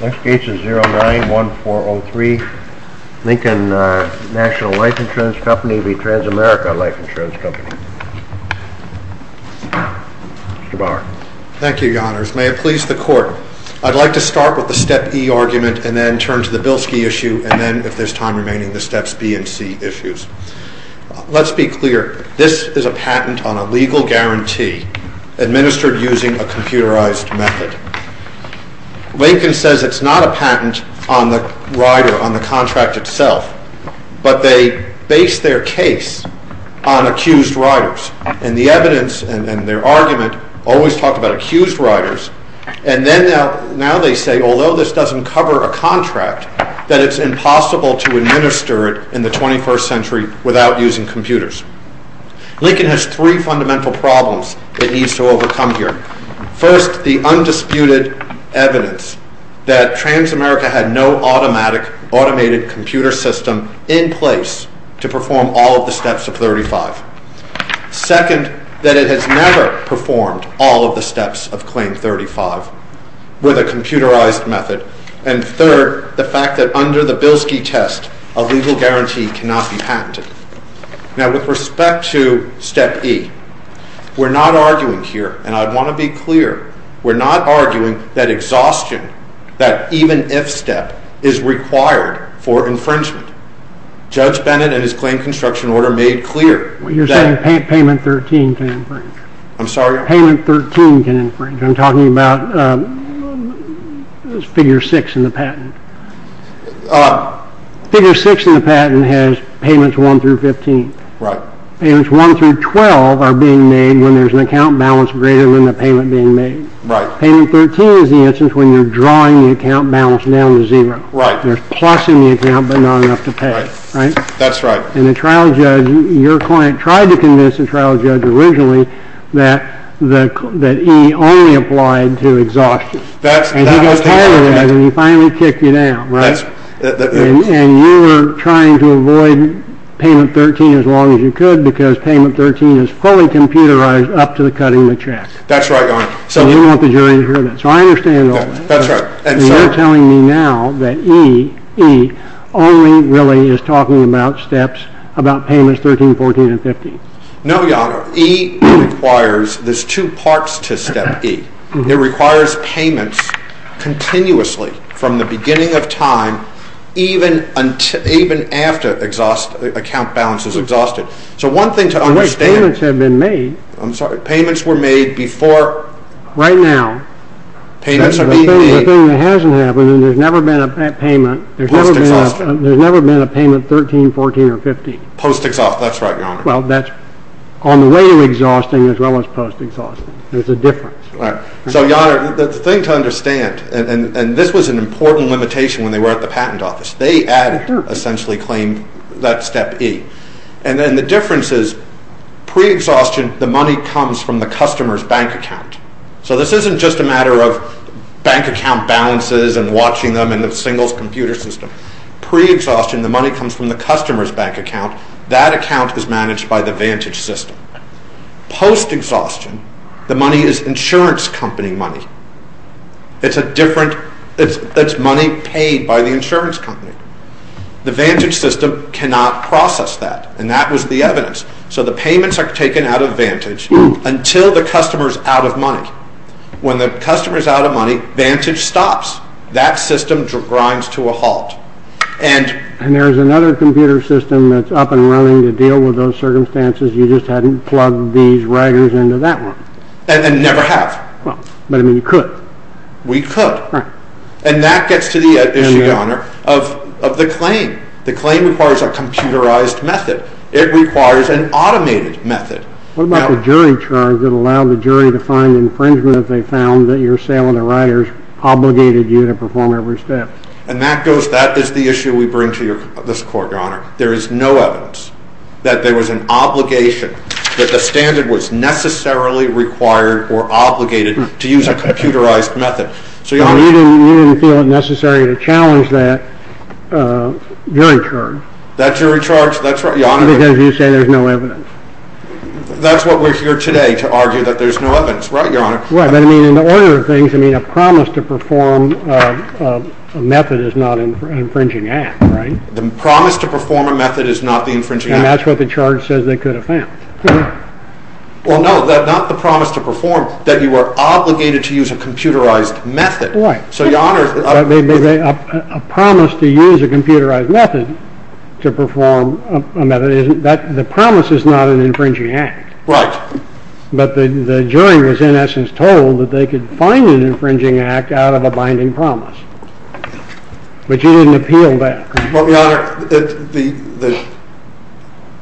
Next case is 091403 Lincoln National Life Insurance Company v. Transamerica Life Insurance Company. Mr. Bauer. Thank you, Your Honors. May it please the Court. I'd like to start with the Step E argument and then turn to the Bilski issue and then, if there's time remaining, the Steps B and C issues. Let's be clear. This is a patent on a legal guarantee administered using a computerized method. Lincoln says it's not a patent on the rider, on the contract itself, but they base their case on accused riders. And the evidence and their argument always talk about accused riders. And now they say, although this doesn't cover a contract, that it's impossible to administer it in the 21st century without using computers. Lincoln has three fundamental problems it needs to overcome here. First, the undisputed evidence that Transamerica had no automatic, automated computer system in place to perform all of the Steps of 35. Second, that it has never performed all of the Steps of Claim 35 with a computerized method. And third, the fact that under the Bilski test, a legal guarantee cannot be patented. Now, with respect to Step E, we're not arguing here, and I want to be clear, we're not arguing that exhaustion, that even if step, is required for infringement. Judge Bennett and his Claim Construction Order made clear that... You're saying Payment 13 can infringe. I'm sorry? Payment 13 can infringe. I'm talking about Figure 6 in the patent. Figure 6 in the patent has Payments 1 through 15. Right. Payments 1 through 12 are being made when there's an account balance greater than the payment being made. Right. Payment 13 is the instance when you're drawing the account balance down to zero. Right. There's plus in the account, but not enough to pay. Right. That's right. And the trial judge, your client, tried to convince the trial judge originally that E only applied to exhaustion. And he got tired of that, and he finally kicked you down, right? And you were trying to avoid Payment 13 as long as you could, because Payment 13 is fully computerized up to the cutting of the check. That's right, Your Honor. And you want the jury to hear that. So I understand all that. That's right. And you're telling me now that E only really is talking about steps, about Payments 13, 14, and 15. No, Your Honor. E requires, there's two parts to Step E. It requires payments continuously from the beginning of time even after account balance is exhausted. So one thing to understand. Unless payments have been made. I'm sorry. Payments were made before. Right now. Payments are being made. The thing that hasn't happened, and there's never been a payment. Post-exhaustion. There's never been a payment 13, 14, or 15. Post-exhaustion. That's right, Your Honor. Well, that's on the way to exhausting as well as post-exhaustion. There's a difference. All right. So, Your Honor, the thing to understand, and this was an important limitation when they were at the patent office. They had essentially claimed that Step E. And then the difference is pre-exhaustion, the money comes from the customer's bank account. So this isn't just a matter of bank account balances and watching them in the singles computer system. Pre-exhaustion, the money comes from the customer's bank account. That account is managed by the Vantage system. Post-exhaustion, the money is insurance company money. It's money paid by the insurance company. The Vantage system cannot process that, and that was the evidence. So the payments are taken out of Vantage until the customer is out of money. When the customer is out of money, Vantage stops. That system grinds to a halt. And there's another computer system that's up and running to deal with those circumstances. You just hadn't plugged these riders into that one. And never have. But, I mean, you could. We could. Right. And that gets to the issue, Your Honor, of the claim. The claim requires a computerized method. It requires an automated method. What about the jury charge that allowed the jury to find infringement if they found that your sale on the riders obligated you to perform every step? And that is the issue we bring to this court, Your Honor. There is no evidence that there was an obligation, that the standard was necessarily required or obligated to use a computerized method. You didn't feel it necessary to challenge that jury charge. That jury charge, that's right, Your Honor. Because you say there's no evidence. That's what we're here today to argue, that there's no evidence. Right, Your Honor? Right, but, I mean, in the order of things, I mean, a promise to perform a method is not an infringing act, right? The promise to perform a method is not the infringing act. And that's what the charge says they could have found. Well, no, not the promise to perform, that you are obligated to use a computerized method. Right. So, Your Honor, A promise to use a computerized method to perform a method, the promise is not an infringing act. Right. But the jury was, in essence, told that they could find an infringing act out of a binding promise. But you didn't appeal that. Well, Your Honor, the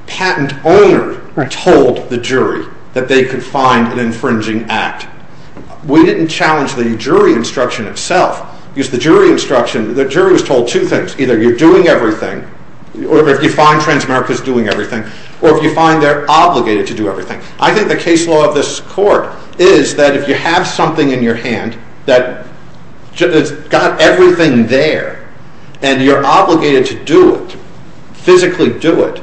patent owner told the jury that they could find an infringing act. We didn't challenge the jury instruction itself. Because the jury instruction, the jury was told two things. Either you're doing everything, or if you find Transamerica's doing everything, or if you find they're obligated to do everything. I think the case law of this court is that if you have something in your hand that has got everything there, and you're obligated to do it, physically do it,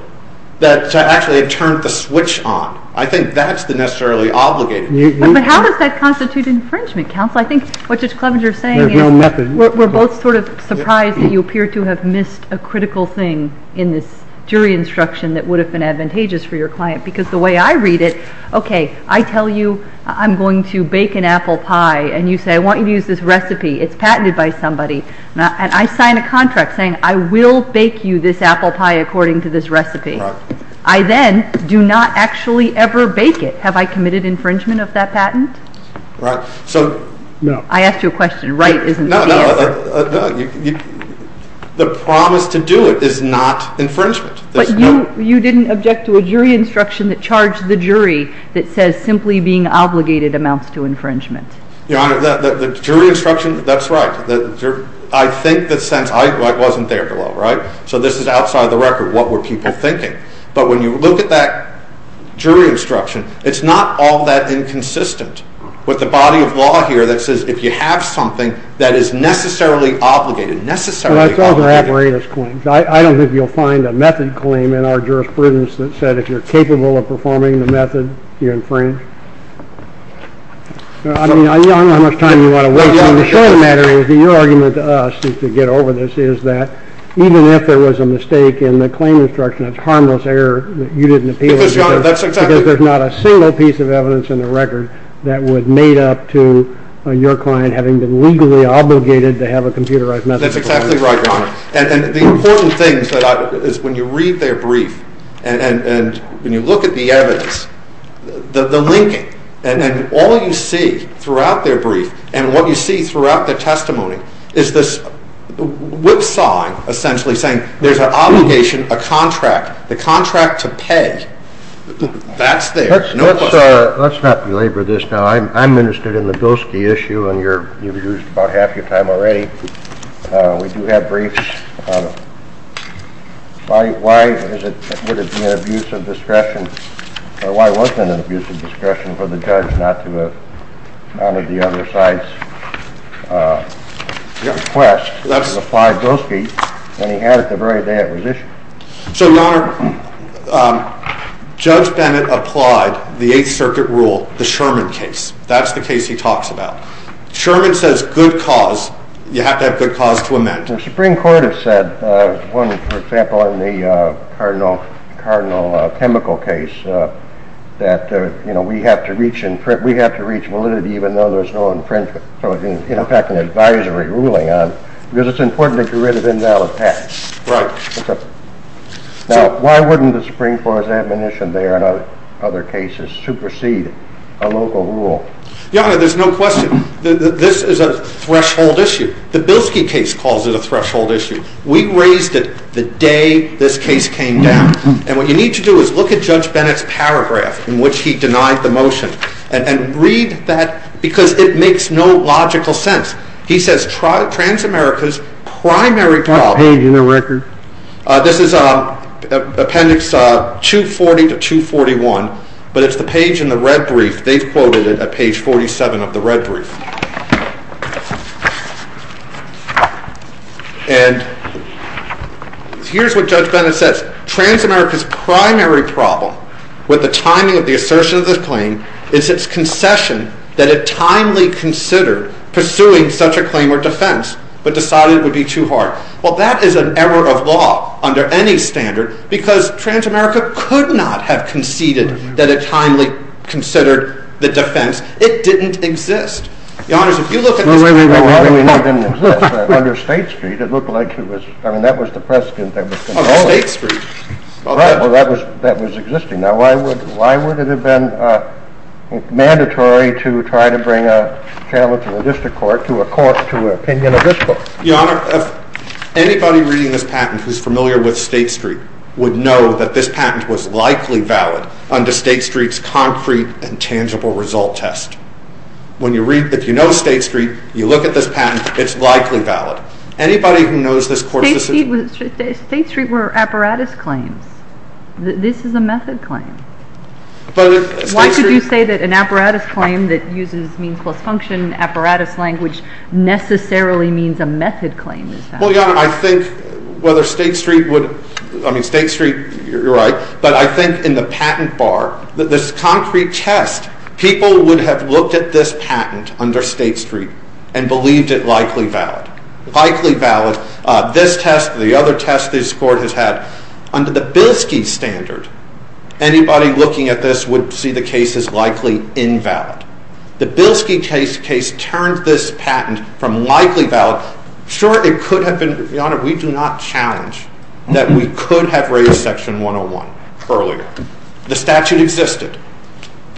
that actually it turned the switch on. I think that's the necessarily obligated. But how does that constitute infringement, counsel? I think what Judge Clevenger is saying is we're both sort of surprised that you appear to have missed a critical thing in this jury instruction that would have been advantageous for your client. Because the way I read it, okay, I tell you I'm going to bake an apple pie. And you say, I want you to use this recipe. It's patented by somebody. And I sign a contract saying I will bake you this apple pie according to this recipe. I then do not actually ever bake it. Have I committed infringement of that patent? Right. I asked you a question. Right isn't the answer. No, no. The promise to do it is not infringement. But you didn't object to a jury instruction that charged the jury that says simply being obligated amounts to infringement. Your Honor, the jury instruction, that's right. I think that since I wasn't there below, right, so this is outside the record what were people thinking. But when you look at that jury instruction, it's not all that inconsistent with the body of law here that says if you have something that is necessarily obligated, necessarily obligated. But it's also apparatus claims. I don't think you'll find a method claim in our jurisprudence that said if you're capable of performing the method, you're infringed. I mean, Your Honor, I don't know how much time you want to waste on this. The point of the matter is that your argument to us to get over this is that even if there was a mistake in the claim instruction, a harmless error, you didn't appeal it. That's exactly right. Because there's not a single piece of evidence in the record that was made up to your client having been legally obligated to have a computerized method. That's exactly right, Your Honor. And the important thing is when you read their brief and when you look at the evidence, the linking, and all you see throughout their brief and what you see throughout their testimony is this whipsawing essentially saying there's an obligation, a contract, the contract to pay, that's there, no question. Let's not belabor this now. Your Honor, I'm interested in the Bilski issue, and you've used about half your time already. We do have briefs. Why would it be an abuse of discretion or why wasn't it an abuse of discretion for the judge not to have honored the other side's request to apply Bilski when he had it the very day it was issued? So, Your Honor, Judge Bennett applied the Eighth Circuit rule, the Sherman case. That's the case he talks about. Sherman says good cause, you have to have good cause to amend. The Supreme Court has said, for example, in the Cardinal Chemical case, that we have to reach validity even though there's no infringement, in fact, an advisory ruling on, because it's important to get rid of invalid facts. Right. Now, why wouldn't the Supreme Court's admonition there and other cases supersede a local rule? Your Honor, there's no question. This is a threshold issue. The Bilski case calls it a threshold issue. We raised it the day this case came down, and what you need to do is look at Judge Bennett's paragraph in which he denied the motion and read that, because it makes no logical sense. He says, Transamerica's primary problem... What page in the record? This is Appendix 240 to 241, but it's the page in the red brief. They've quoted it at page 47 of the red brief. And here's what Judge Bennett says. Transamerica's primary problem with the timing of the assertion of this claim is its concession that it timely considered pursuing such a claim or defense, but decided it would be too hard. Well, that is an error of law under any standard, because Transamerica could not have conceded that it timely considered the defense. It didn't exist. Your Honor, if you look at this... Wait, wait, wait. Why do we know it didn't exist? Under State Street, it looked like it was... I mean, that was the precedent that was going to hold it. Oh, State Street. Right. Well, that was existing. Now, why would it have been mandatory to try to bring a challenge to the district court to a court to an opinion of this court? Your Honor, if anybody reading this patent who's familiar with State Street would know that this patent was likely valid under State Street's concrete and tangible result test. If you know State Street, you look at this patent, it's likely valid. Anybody who knows this court's decision... State Street were apparatus claims. This is a method claim. Why did you say that an apparatus claim that uses means plus function apparatus language necessarily means a method claim? Well, Your Honor, I think whether State Street would... I mean, State Street, you're right, but I think in the patent bar, this concrete test, people would have looked at this patent under State Street and believed it likely valid. Likely valid. This test, the other test this court has had, under the Bilski standard, anybody looking at this would see the case as likely invalid. The Bilski case turned this patent from likely valid. Sure, it could have been. Your Honor, we do not challenge that we could have raised Section 101 earlier. The statute existed.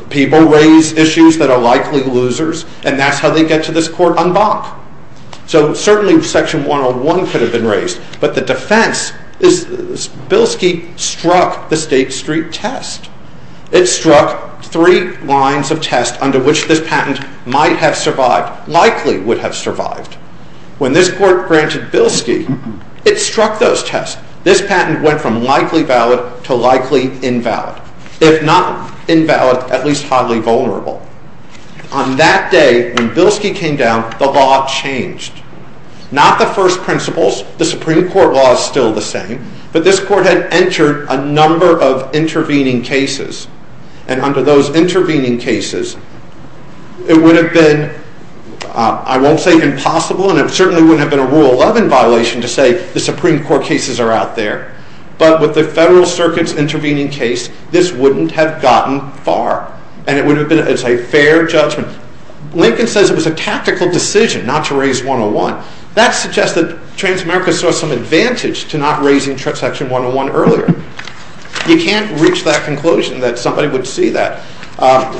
People raise issues that are likely losers, and that's how they get to this court en banc. So certainly Section 101 could have been raised, but the defense is Bilski struck the State Street test. It struck three lines of test under which this patent might have survived, likely would have survived. When this court granted Bilski, it struck those tests. This patent went from likely valid to likely invalid. If not invalid, at least highly vulnerable. On that day, when Bilski came down, the law changed. Not the first principles, the Supreme Court law is still the same, but this court had entered a number of intervening cases, and under those intervening cases, it would have been, I won't say impossible, and it certainly wouldn't have been a Rule 11 violation to say the Supreme Court cases are out there, but with the Federal Circuit's intervening case, this wouldn't have gotten far, and it would have been a fair judgment. Lincoln says it was a tactical decision not to raise 101. That suggests that Transamerica saw some advantage to not raising Section 101 earlier. You can't reach that conclusion that somebody would see that.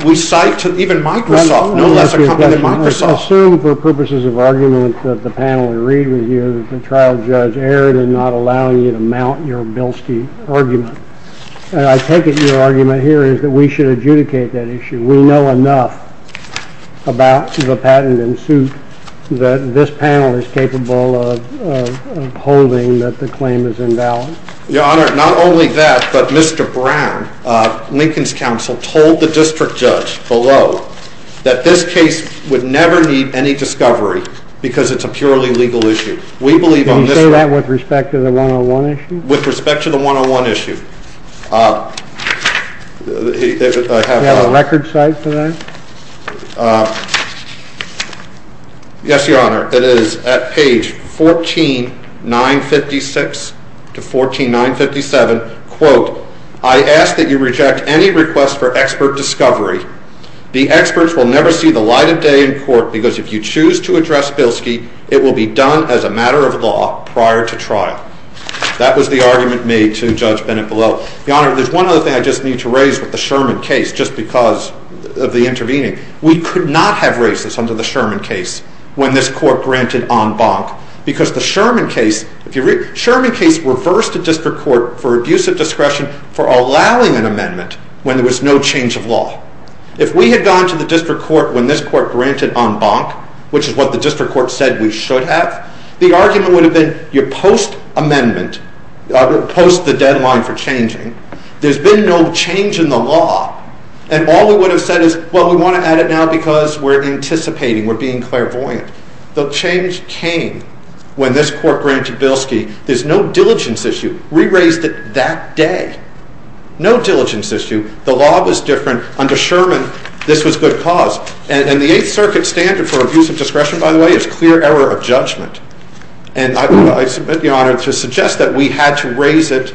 We cite even Microsoft, no less a company than Microsoft. I assume for purposes of argument that the panel agreed with you that the trial judge erred in not allowing you to mount your Bilski argument. I take it your argument here is that we should adjudicate that issue. We know enough about the patent in suit that this panel is capable of holding that the claim is invalid. Your Honor, not only that, but Mr. Brown, Lincoln's counsel, told the district judge below that this case would never need any discovery because it's a purely legal issue. Can you say that with respect to the 101 issue? With respect to the 101 issue. Do you have a record cite for that? Yes, Your Honor. It is at page 14956 to 14957. Quote, I ask that you reject any request for expert discovery. The experts will never see the light of day in court because if you choose to address Bilski, it will be done as a matter of law prior to trial. That was the argument made to Judge Bennett below. Your Honor, there's one other thing I just need to raise with the Sherman case, just because of the intervening. We could not have raised this under the Sherman case when this court granted en banc because the Sherman case reversed a district court for abuse of discretion for allowing an amendment when there was no change of law. If we had gone to the district court when this court granted en banc, which is what the district court said we should have, the argument would have been you post-amendment, post the deadline for changing, there's been no change in the law, and all we would have said is, well, we want to add it now because we're anticipating, we're being clairvoyant. The change came when this court granted Bilski. There's no diligence issue. We raised it that day. No diligence issue. The law was different. Under Sherman, this was good cause. And the Eighth Circuit standard for abuse of discretion, by the way, is clear error of judgment. And I submit, Your Honor, to suggest that we had to raise it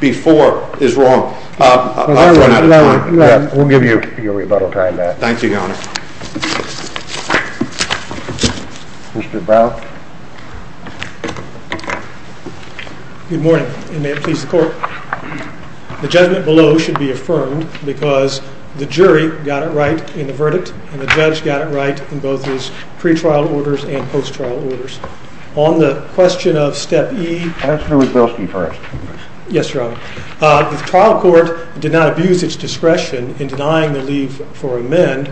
before is wrong. I've run out of time. We'll give you your rebuttal time back. Thank you, Your Honor. Mr. Brown. Good morning, and may it please the Court. The judgment below should be affirmed because the jury got it right in the verdict, and the judge got it right in both his pre-trial orders and post-trial orders. On the question of Step E. Pass it over to Bilski first. Yes, Your Honor. The trial court did not abuse its discretion in denying the leave for amend,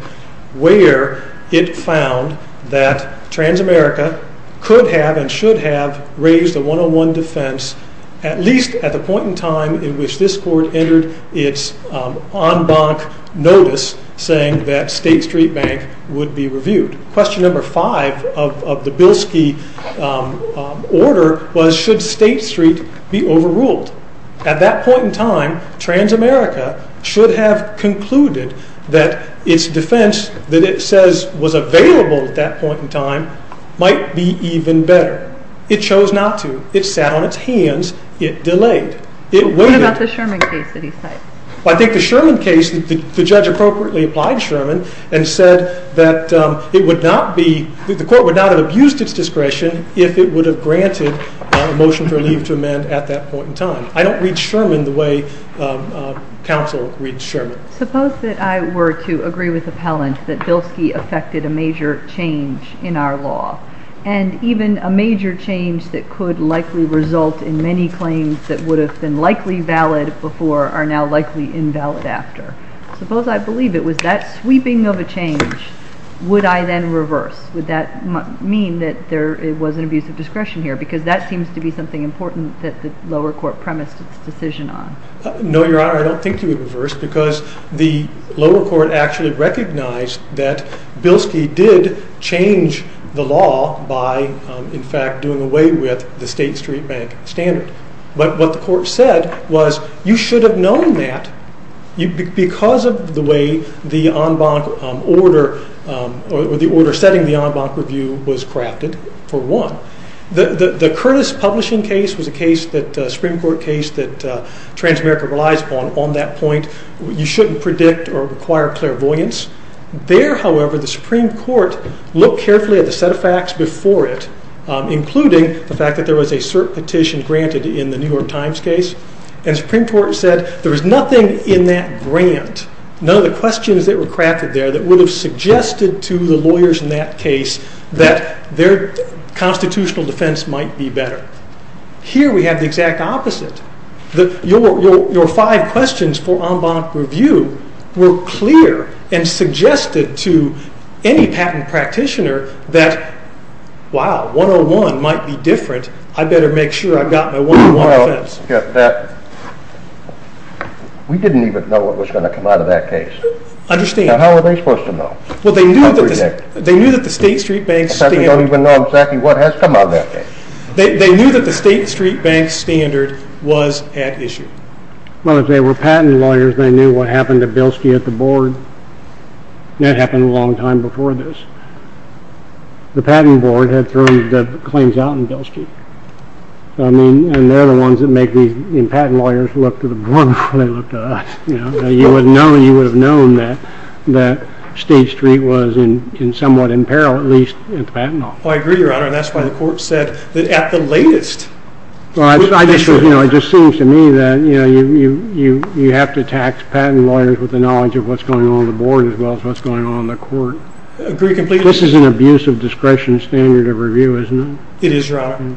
where it found that Transamerica could have and should have raised a 101 defense, at least at the point in time in which this court entered its en banc notice saying that State Street Bank would be reviewed. Question number five of the Bilski order was should State Street be overruled? At that point in time, Transamerica should have concluded that its defense that it says was available at that point in time might be even better. It chose not to. It sat on its hands. It delayed. What about the Sherman case that he cited? I think the Sherman case, the judge appropriately applied Sherman and said that the court would not have abused its discretion if it would have granted a motion for leave to amend at that point in time. I don't read Sherman the way counsel reads Sherman. Suppose that I were to agree with appellant that Bilski affected a major change in our law, and even a major change that could likely result in many claims that would have been likely valid before are now likely invalid after. Suppose I believe it was that sweeping of a change. Would I then reverse? Would that mean that there was an abuse of discretion here? Because that seems to be something important that the lower court premised its decision on. No, Your Honor, I don't think you would reverse because the lower court actually recognized that Bilski did change the law by in fact doing away with the State Street Bank standard. But what the court said was you should have known that because of the way the order setting the en banc review was crafted, for one. The Curtis publishing case was a Supreme Court case that Transamerica relies upon. On that point, you shouldn't predict or require clairvoyance. There, however, the Supreme Court looked carefully at the set of facts before it, including the fact that there was a cert petition granted in the New York Times case, and the Supreme Court said there was nothing in that grant, none of the questions that were crafted there that would have suggested to the lawyers in that case that their constitutional defense might be better. Here we have the exact opposite. Your five questions for en banc review were clear and suggested to any patent practitioner that, wow, 101 might be different, I better make sure I've got my 101 defense. We didn't even know what was going to come out of that case. Understand. How were they supposed to know? Well, they knew that the State Street Bank standard... In fact, they don't even know exactly what has come out of that case. They knew that the State Street Bank standard was at issue. Well, if they were patent lawyers, they knew what happened to Bilski at the board. That happened a long time before this. The patent board had thrown the claims out on Bilski, and they're the ones that make these patent lawyers look to the board before they look to us. You would have known that State Street was somewhat in peril, at least at the patent office. I agree, Your Honor, and that's why the court said that at the latest... It just seems to me that you have to tax patent lawyers with the knowledge of what's going on at the board as well as what's going on in the court. Agree completely. This is an abuse of discretion standard of review, isn't it? It is, Your Honor.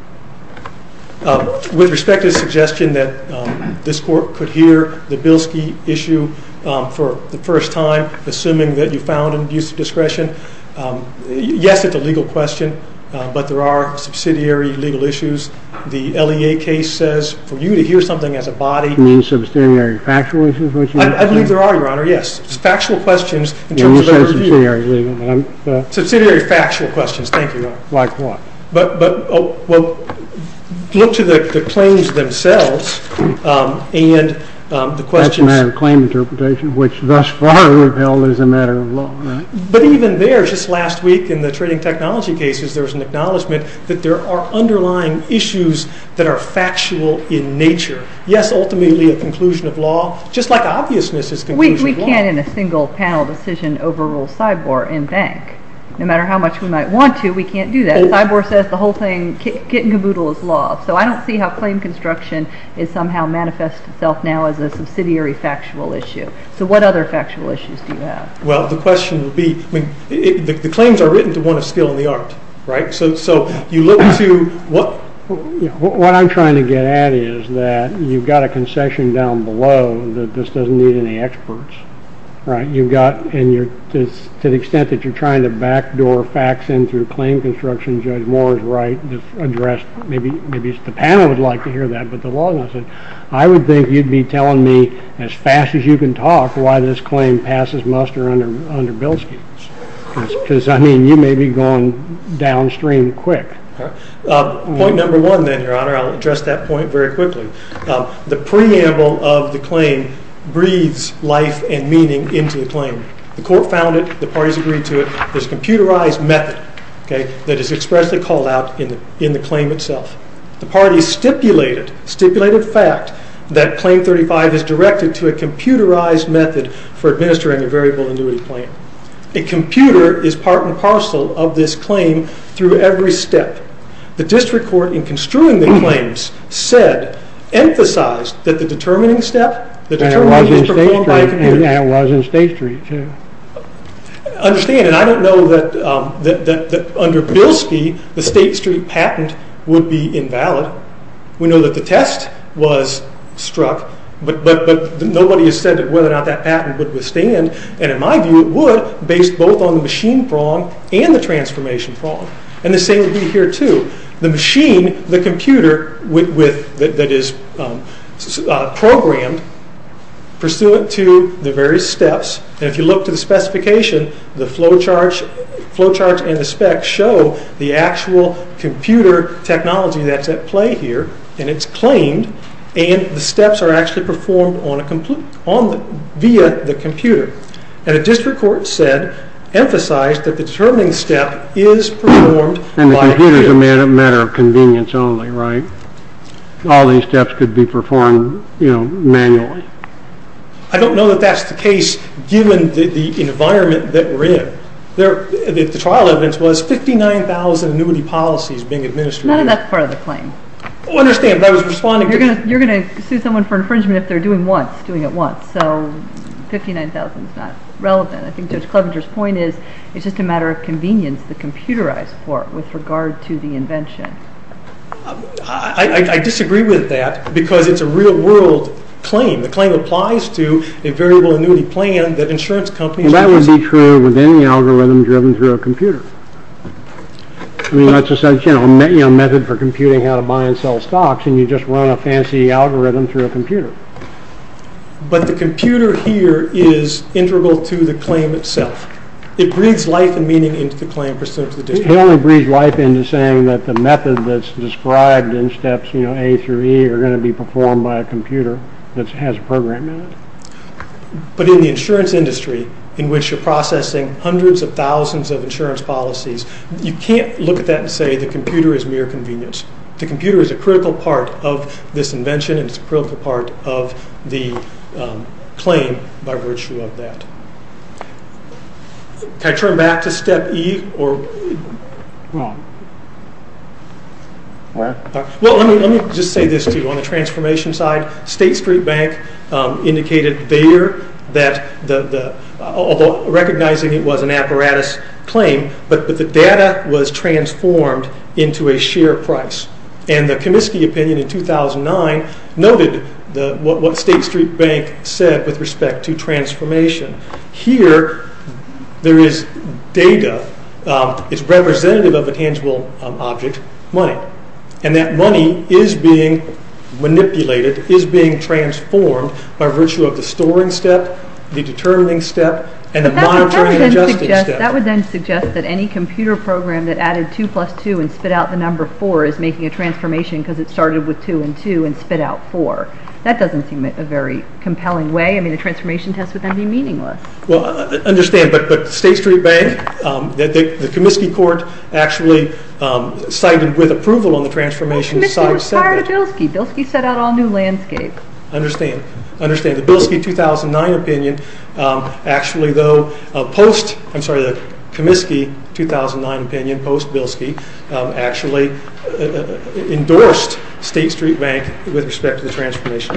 With respect to the suggestion that this court could hear the Bilski issue for the first time, assuming that you found an abuse of discretion, yes, it's a legal question, but there are subsidiary legal issues. The LEA case says for you to hear something as a body... You mean subsidiary factual issues? I believe there are, Your Honor, yes, factual questions in terms of a review. You said subsidiary legal, but I'm... Subsidiary factual questions, thank you, Your Honor. Like what? Well, look to the claims themselves and the questions... Thus far, they were held as a matter of law, right? But even there, just last week in the trading technology cases, there was an acknowledgment that there are underlying issues that are factual in nature. Yes, ultimately a conclusion of law, just like obviousness is conclusion of law. We can't in a single panel decision overrule Sibor and Bank. No matter how much we might want to, we can't do that. Sibor says the whole thing, kit and caboodle is law, so I don't see how claim construction is somehow manifest itself now as a subsidiary factual issue. So what other factual issues do you have? Well, the question would be... The claims are written to one of skill in the art, right? So you look to what... What I'm trying to get at is that you've got a concession down below that this doesn't need any experts, right? You've got... And to the extent that you're trying to backdoor facts in through claim construction, Judge Moore is right, addressed... Maybe the panel would like to hear that, but the law doesn't. I would think you'd be telling me as fast as you can talk why this claim passes muster under Bill's case. Because, I mean, you may be going downstream quick. Point number one then, Your Honor, I'll address that point very quickly. The preamble of the claim breathes life and meaning into the claim. The court found it, the parties agreed to it, there's a computerized method that is expressly called out in the claim itself. The parties stipulated, stipulated fact, that claim 35 is directed to a computerized method for administering a variable annuity claim. A computer is part and parcel of this claim through every step. The district court, in construing the claims, said, emphasized that the determining step... And it was in State Street too. Understand, and I don't know that under Bilski, the State Street patent would be invalid. We know that the test was struck, but nobody has said whether or not that patent would withstand, and in my view it would, based both on the machine prong and the transformation prong. And the same would be here too. The machine, the computer that is programmed, pursuant to the various steps, and if you look to the specification, the flow charge and the specs show the actual computer technology that's at play here, and it's claimed, and the steps are actually performed via the computer. And the district court said, emphasized, that the determining step is performed by a computer. And the computer is a matter of convenience only, right? All these steps could be performed manually. I don't know that that's the case, given the environment that we're in. The trial evidence was 59,000 annuity policies being administered. None of that's part of the claim. Well, understand, I was responding to... You're going to sue someone for infringement if they're doing it once, so 59,000 is not relevant. I think Judge Clevenger's point is, it's just a matter of convenience, the computerized part with regard to the invention. I disagree with that, because it's a real-world claim. The claim applies to a variable annuity plan that insurance companies... Well, that would be true within the algorithm driven through a computer. I mean, that's just such a method for computing how to buy and sell stocks, and you just run a fancy algorithm through a computer. But the computer here is integral to the claim itself. It breathes life and meaning into the claim, pursuant to the district court. He only breathes life into saying that the method that's described in steps A through E are going to be performed by a computer that has a program in it. But in the insurance industry, in which you're processing hundreds of thousands of insurance policies, you can't look at that and say the computer is mere convenience. The computer is a critical part of this invention, and it's a critical part of the claim by virtue of that. Can I turn back to step E? Well, let me just say this to you on the transformation side. State Street Bank indicated there that, although recognizing it was an apparatus claim, but the data was transformed into a share price. And the Comiskey opinion in 2009 noted what State Street Bank said with respect to transformation. Here, there is data. It's representative of a tangible object, money. And that money is being manipulated, is being transformed, by virtue of the storing step, the determining step, and the monitoring and adjusting step. That would then suggest that any computer program that added 2 plus 2 and spit out the number 4 is making a transformation because it started with 2 and 2 and spit out 4. That doesn't seem like a very compelling way. I mean, a transformation test would then be meaningless. Well, I understand, but State Street Bank, the Comiskey court actually cited with approval on the transformation. Well, Comiskey was prior to Bilski. Bilski set out all new landscape. The Comiskey 2009 opinion, post-Bilski, actually endorsed State Street Bank with respect to the transformation.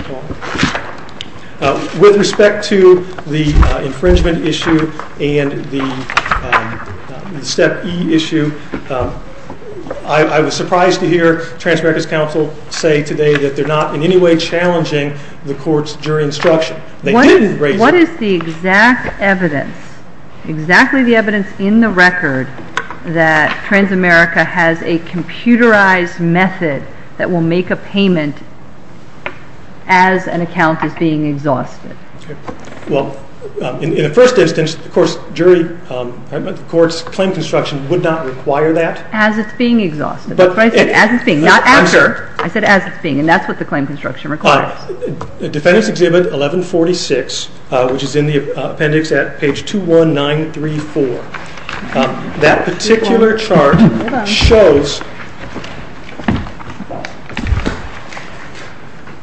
With respect to the infringement issue and the Step E issue, I was surprised to hear Transamerica's counsel say today that they're not in any way challenging the court's jury instruction. What is the exact evidence, exactly the evidence in the record, that Transamerica has a computerized method that will make a payment as an account is being exhausted? Well, in the first instance, the court's claim construction would not require that. As it's being exhausted, that's what I said, as it's being, not after. I'm sorry. I said as it's being, and that's what the claim construction requires. Defendant's Exhibit 1146, which is in the appendix at page 21934, that particular chart shows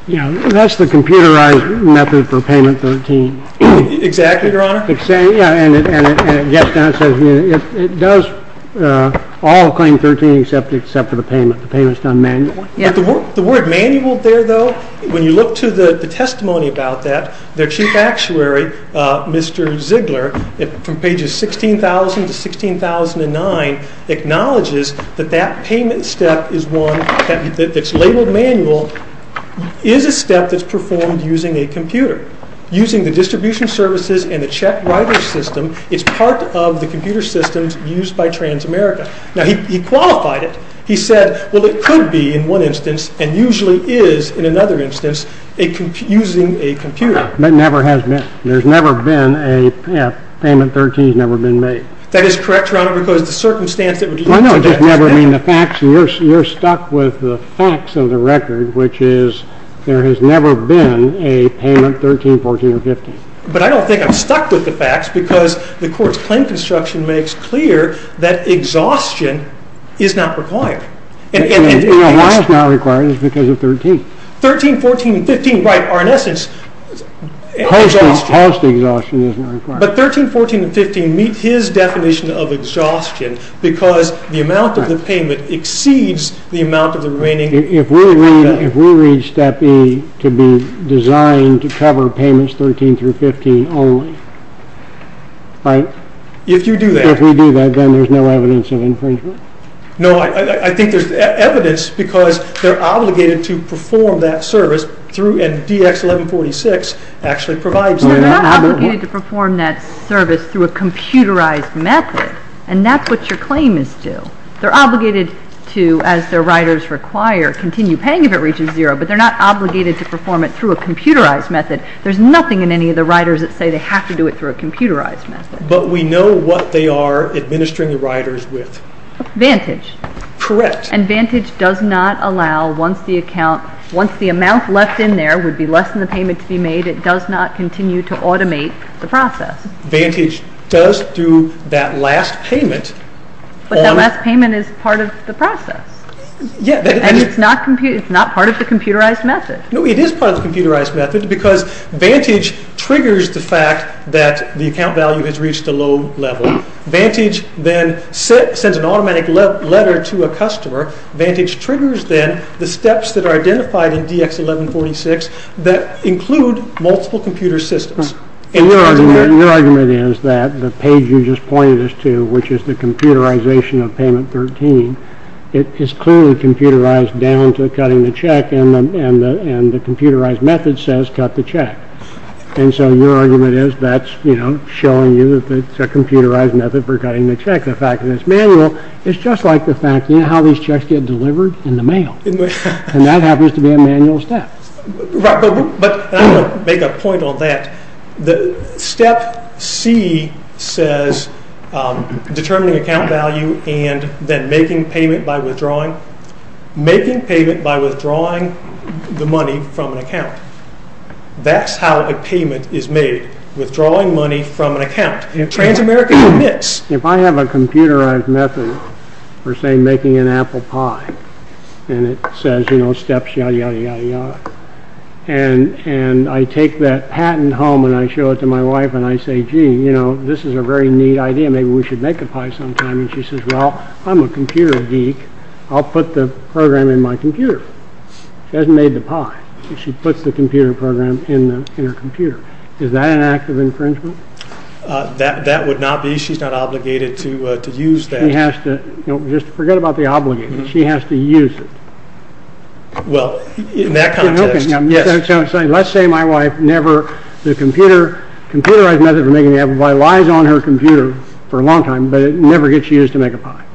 Yeah, that's the computerized method for payment 13. Exactly, Your Honor. Yeah, and it does all claim 13 except for the payment. The payment's done manually. The word manual there, though, when you look to the testimony about that, their chief actuary, Mr. Ziegler, from pages 16,000 to 16,009, acknowledges that that payment step is one that's labeled manual, is a step that's performed using a computer. Using the distribution services and the check writer system, it's part of the computer systems used by Transamerica. Now, he qualified it. He said, well, it could be, in one instance, and usually is, in another instance, using a computer. No, it never has been. There's never been a payment 13 that's never been made. That is correct, Your Honor, because the circumstance that would lead to that is never been made. No, I don't just mean the facts. You're stuck with the facts of the record, which is there has never been a payment 13, 14, or 15. But I don't think I'm stuck with the facts because the court's claim construction makes clear that exhaustion is not required. And why it's not required is because of 13. 13, 14, and 15 are, in essence, exhaustion. Post-exhaustion is not required. But 13, 14, and 15 meet his definition of exhaustion because the amount of the payment exceeds the amount of the remaining income. If we read step E to be designed to cover payments 13 through 15 only, right? If you do that. If we do that, then there's no evidence of infringement. No, I think there's evidence because they're obligated to perform that service and DX 1146 actually provides that. They're not obligated to perform that service through a computerized method. And that's what your claim is due. They're obligated to, as their writers require, continue paying if it reaches zero. But they're not obligated to perform it through a computerized method. There's nothing in any of the writers that say they have to do it through a computerized method. But we know what they are administering the writers with. Vantage. Correct. And Vantage does not allow, once the amount left in there would be less than the payment to be made, it does not continue to automate the process. Vantage does do that last payment. But that last payment is part of the process. Yeah. And it's not part of the computerized method. No, it is part of the computerized method because Vantage triggers the fact that the account value has reached a low level. Vantage then sends an automatic letter to a customer. Vantage triggers then the steps that are identified in DX 1146 that include multiple computer systems. And your argument is that the page you just pointed us to, which is the computerization of payment 13, it is clearly computerized down to cutting the check and the computerized method says cut the check. And so your argument is that's, you know, showing you that it's a computerized method for cutting the check. The fact that it's manual is just like the fact, you know, how these checks get delivered in the mail. And that happens to be a manual step. But I'm going to make a point on that. Step C says determining account value and then making payment by withdrawing. Making payment by withdrawing the money from an account. That's how a payment is made. Withdrawing money from an account. Transamerica commits. If I have a computerized method for, say, making an apple pie and it says, you know, steps, yada, yada, yada, yada. And I take that patent home and I show it to my wife and I say, gee, you know, this is a very neat idea. Maybe we should make a pie sometime. And she says, well, I'm a computer geek. I'll put the program in my computer. She hasn't made the pie. She puts the computer program in her computer. Is that an act of infringement? That would not be. She's not obligated to use that. She has to. Just forget about the obligation. She has to use it. Well, in that context, yes. Let's say my wife never, the computerized method for making the apple pie lies on her computer for a long time, but it never gets used to make a pie.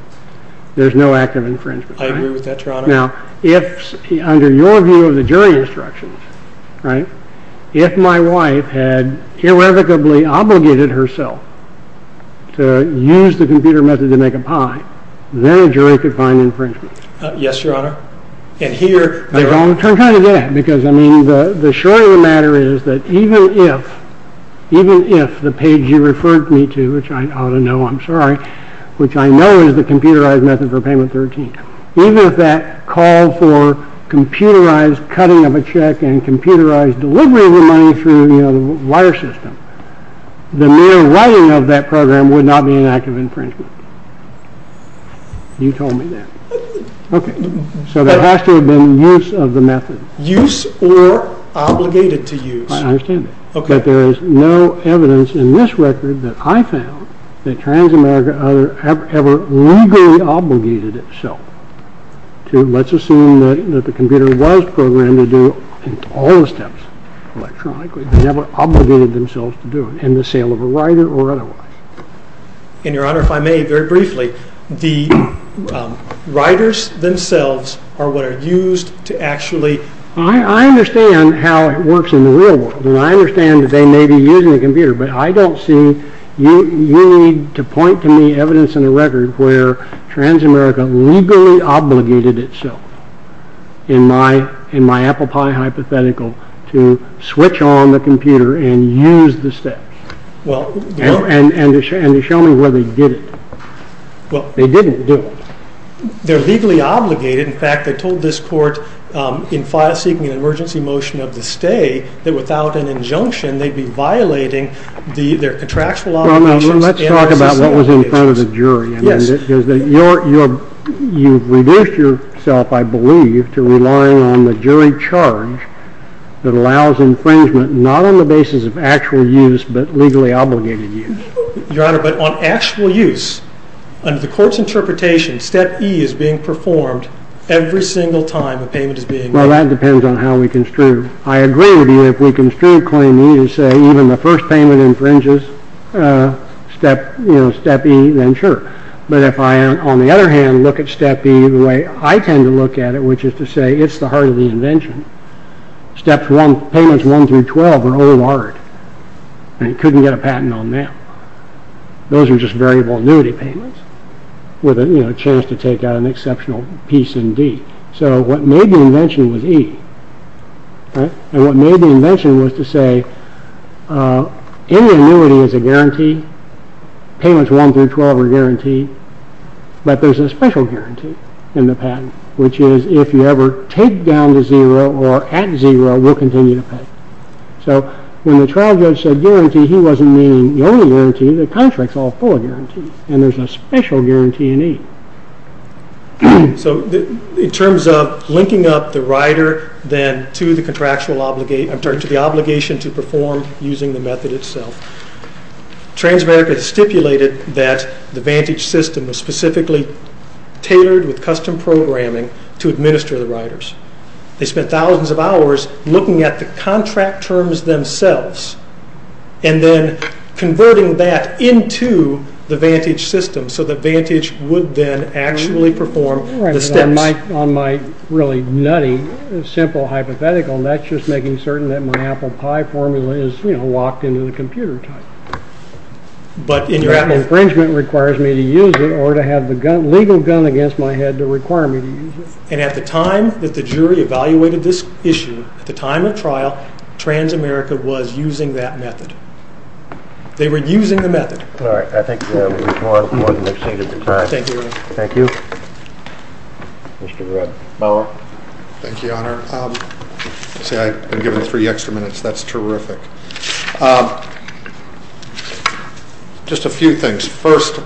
I agree with that, Your Honor. Now, if, under your view of the jury instructions, right, if my wife had irrevocably obligated herself to use the computer method to make a pie, then a jury could find infringement. Yes, Your Honor. They're going to turn kind of dead. Because, I mean, the short of the matter is that even if, even if the page you referred me to, which I ought to know, I'm sorry, which I know is the computerized method for payment 13, even if that called for computerized cutting of a check and computerized delivery of the money through, you know, the wire system, the mere writing of that program would not be an act of infringement. You told me that. Okay. So there has to have been use of the method. Use or obligated to use. I understand that. Okay. But there is no evidence in this record that I found that Transamerica ever legally obligated itself to, let's assume that the computer was programmed to do all the steps electronically, never obligated themselves to do it in the sale of a writer or otherwise. And, Your Honor, if I may, very briefly, the writers themselves are what are used to actually... I understand how it works in the real world, and I understand that they may be using a computer, but I don't see, you need to point to me evidence in the record where Transamerica legally obligated itself, in my apple pie hypothetical, to switch on the computer and use the steps. And show me where they did it. They didn't do it. They're legally obligated. In fact, they told this court in seeking an emergency motion of the stay that without an injunction, they'd be violating their contractual obligations and their societal obligations. Well, now, let's talk about what was in front of the jury. Yes. Because you've reduced yourself, I believe, to relying on the jury charge that allows infringement not on the basis of actual use, but legally obligated use. Your Honor, but on actual use, under the court's interpretation, step E is being performed every single time a payment is being made. Well, that depends on how we construe. I agree with you if we construe claim E to say even the first payment infringes step E, then sure. But if I, on the other hand, look at step E the way I tend to look at it, which is to say it's the heart of the invention, payments 1 through 12 are old art. And you couldn't get a patent on them. Those are just variable annuity payments with a chance to take out an exceptional piece in D. So what made the invention was E. And what made the invention was to say any annuity is a guarantee. Payments 1 through 12 are guaranteed. But there's a special guarantee in the patent, which is if you ever take down to zero or at zero, we'll continue to pay. So when the trial judge said guarantee, he wasn't meaning the only guarantee. The contract's all full of guarantees. And there's a special guarantee in E. So in terms of linking up the rider then to the contractual obligation, I'm sorry, to the obligation to perform using the method itself, Transamerica stipulated that the Vantage system was specifically tailored with custom programming to administer the riders. They spent thousands of hours looking at the contract terms themselves and then converting that into the Vantage system so that Vantage would then actually perform the steps. On my really nutty, simple hypothetical, that's just making certain that my apple pie formula is, you know, locked into the computer type. But an infringement requires me to use it or to have the legal gun against my head to require me to use it. And at the time that the jury evaluated this issue, at the time of trial, Transamerica was using that method. They were using the method. All right, I think we'll move on to the next thing at the time. Thank you, Your Honor. Thank you. Mr. Bauer. Thank you, Your Honor. See, I've been given three extra minutes. That's terrific. Just a few things. First,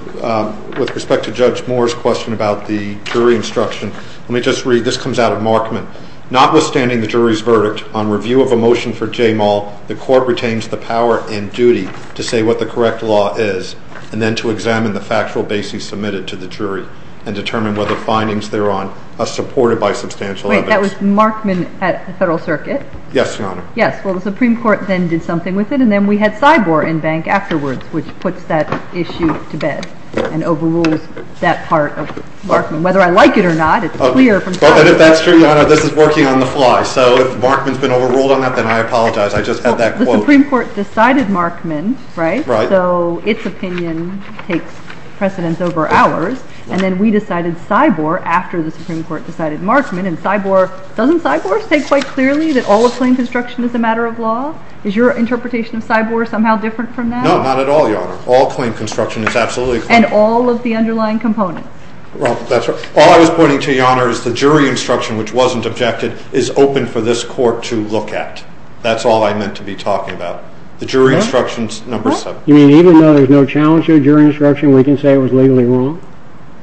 with respect to Judge Moore's question about the jury instruction, let me just read. This comes out of Markman. Notwithstanding the jury's verdict on review of a motion for J. Moll, the court retains the power and duty to say what the correct law is and then to examine the factual basis submitted to the jury and determine whether findings thereon are supported by substantial evidence. Wait. That was Markman at the Federal Circuit? Yes, Your Honor. Yes. Well, the Supreme Court then did something with it, and then we had Sybor in bank afterwards, which puts that issue to bed and overrules that part of Markman. Whether I like it or not, it's clear from trial. But if that's true, Your Honor, this is working on the fly. So if Markman's been overruled on that, then I apologize. I just had that quote. Well, the Supreme Court decided Markman, right? Right. So its opinion takes precedence over ours. And then we decided Sybor after the Supreme Court decided Markman. And Sybor, doesn't Sybor state quite clearly that all of claim construction is a matter of law? Is your interpretation of Sybor somehow different from that? No, not at all, Your Honor. All claim construction is absolutely claim construction. And all of the underlying components? Well, that's right. All I was pointing to, Your Honor, is the jury instruction, which wasn't objected, is open for this court to look at. That's all I meant to be talking about. The jury instruction's number seven. You mean even though there's no challenge to a jury instruction, we can say it was legally wrong?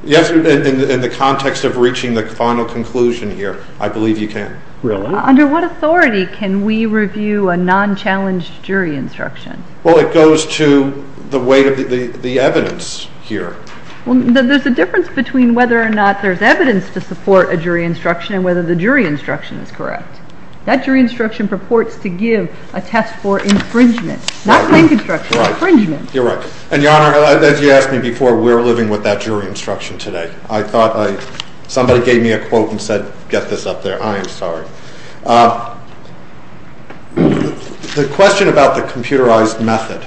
Yes, in the context of reaching the final conclusion here, I believe you can. Really? Under what authority can we review a non-challenged jury instruction? Well, it goes to the weight of the evidence here. Well, there's a difference between whether or not there's evidence to support a jury instruction and whether the jury instruction is correct. That jury instruction purports to give a test for infringement, not claim construction, infringement. Right. You're right. And, Your Honor, as you asked me before, we're living with that jury instruction today. I thought somebody gave me a quote and said, get this up there. I am sorry. The question about the computerized method,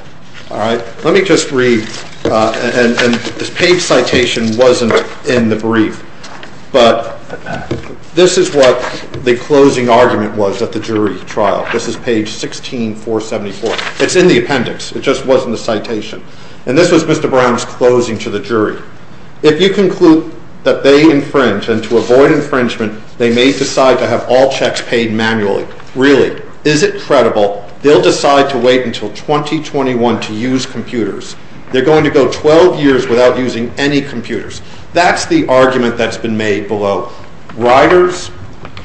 all right, let me just read. And this page citation wasn't in the brief. But this is what the closing argument was at the jury trial. This is page 16474. It's in the appendix. It just wasn't the citation. And this was Mr. Brown's closing to the jury. If you conclude that they infringe and to avoid infringement, they may decide to have all checks paid manually. Really? Is it credible? They'll decide to wait until 2021 to use computers. They're going to go 12 years without using any computers. That's the argument that's been made below. Riders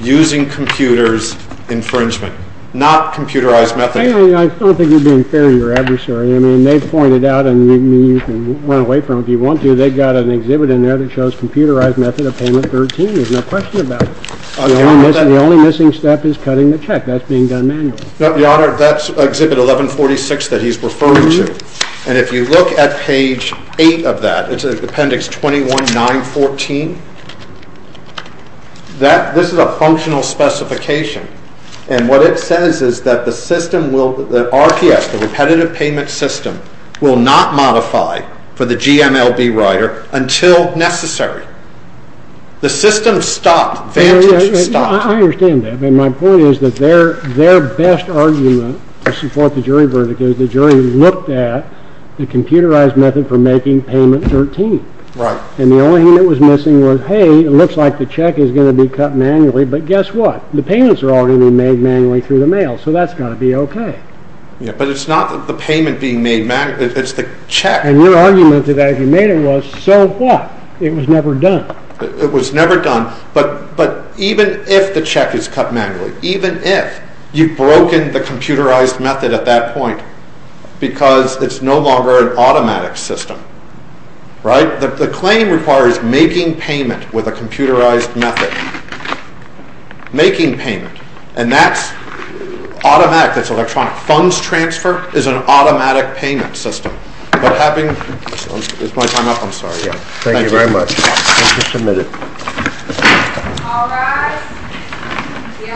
using computers infringement, not computerized method. I don't think you're being fair to your adversary. I mean, they've pointed out, and you can run away from it if you want to, they've got an exhibit in there that shows computerized method of payment 13. There's no question about it. The only missing step is cutting the check. That's being done manually. No, Your Honor, that's exhibit 1146 that he's referring to. And if you look at page 8 of that, it's appendix 21914. This is a functional specification. And what it says is that the system will, the RPS, the repetitive payment system, will not modify for the GMLB rider until necessary. The system stopped. Vantage stopped. I understand that. My point is that their best argument to support the jury verdict is the jury looked at the computerized method for making payment 13. Right. And the only thing that was missing was, hey, it looks like the check is going to be cut manually. But guess what? The payments are already being made manually through the mail, so that's got to be okay. But it's not the payment being made manually. It's the check. And your argument to that, if you made it, was so what? It was never done. It was never done. But even if the check is cut manually, even if, you've broken the computerized method at that point because it's no longer an automatic system. Right? The claim requires making payment with a computerized method. Making payment. And that's automatic. That's electronic. Funds transfer is an automatic payment system. But having, is my time up? I'm sorry. Thank you. Thank you very much. Thank you for submitting. All rise. The honorable court is adjourned until tomorrow morning at 10 a.m.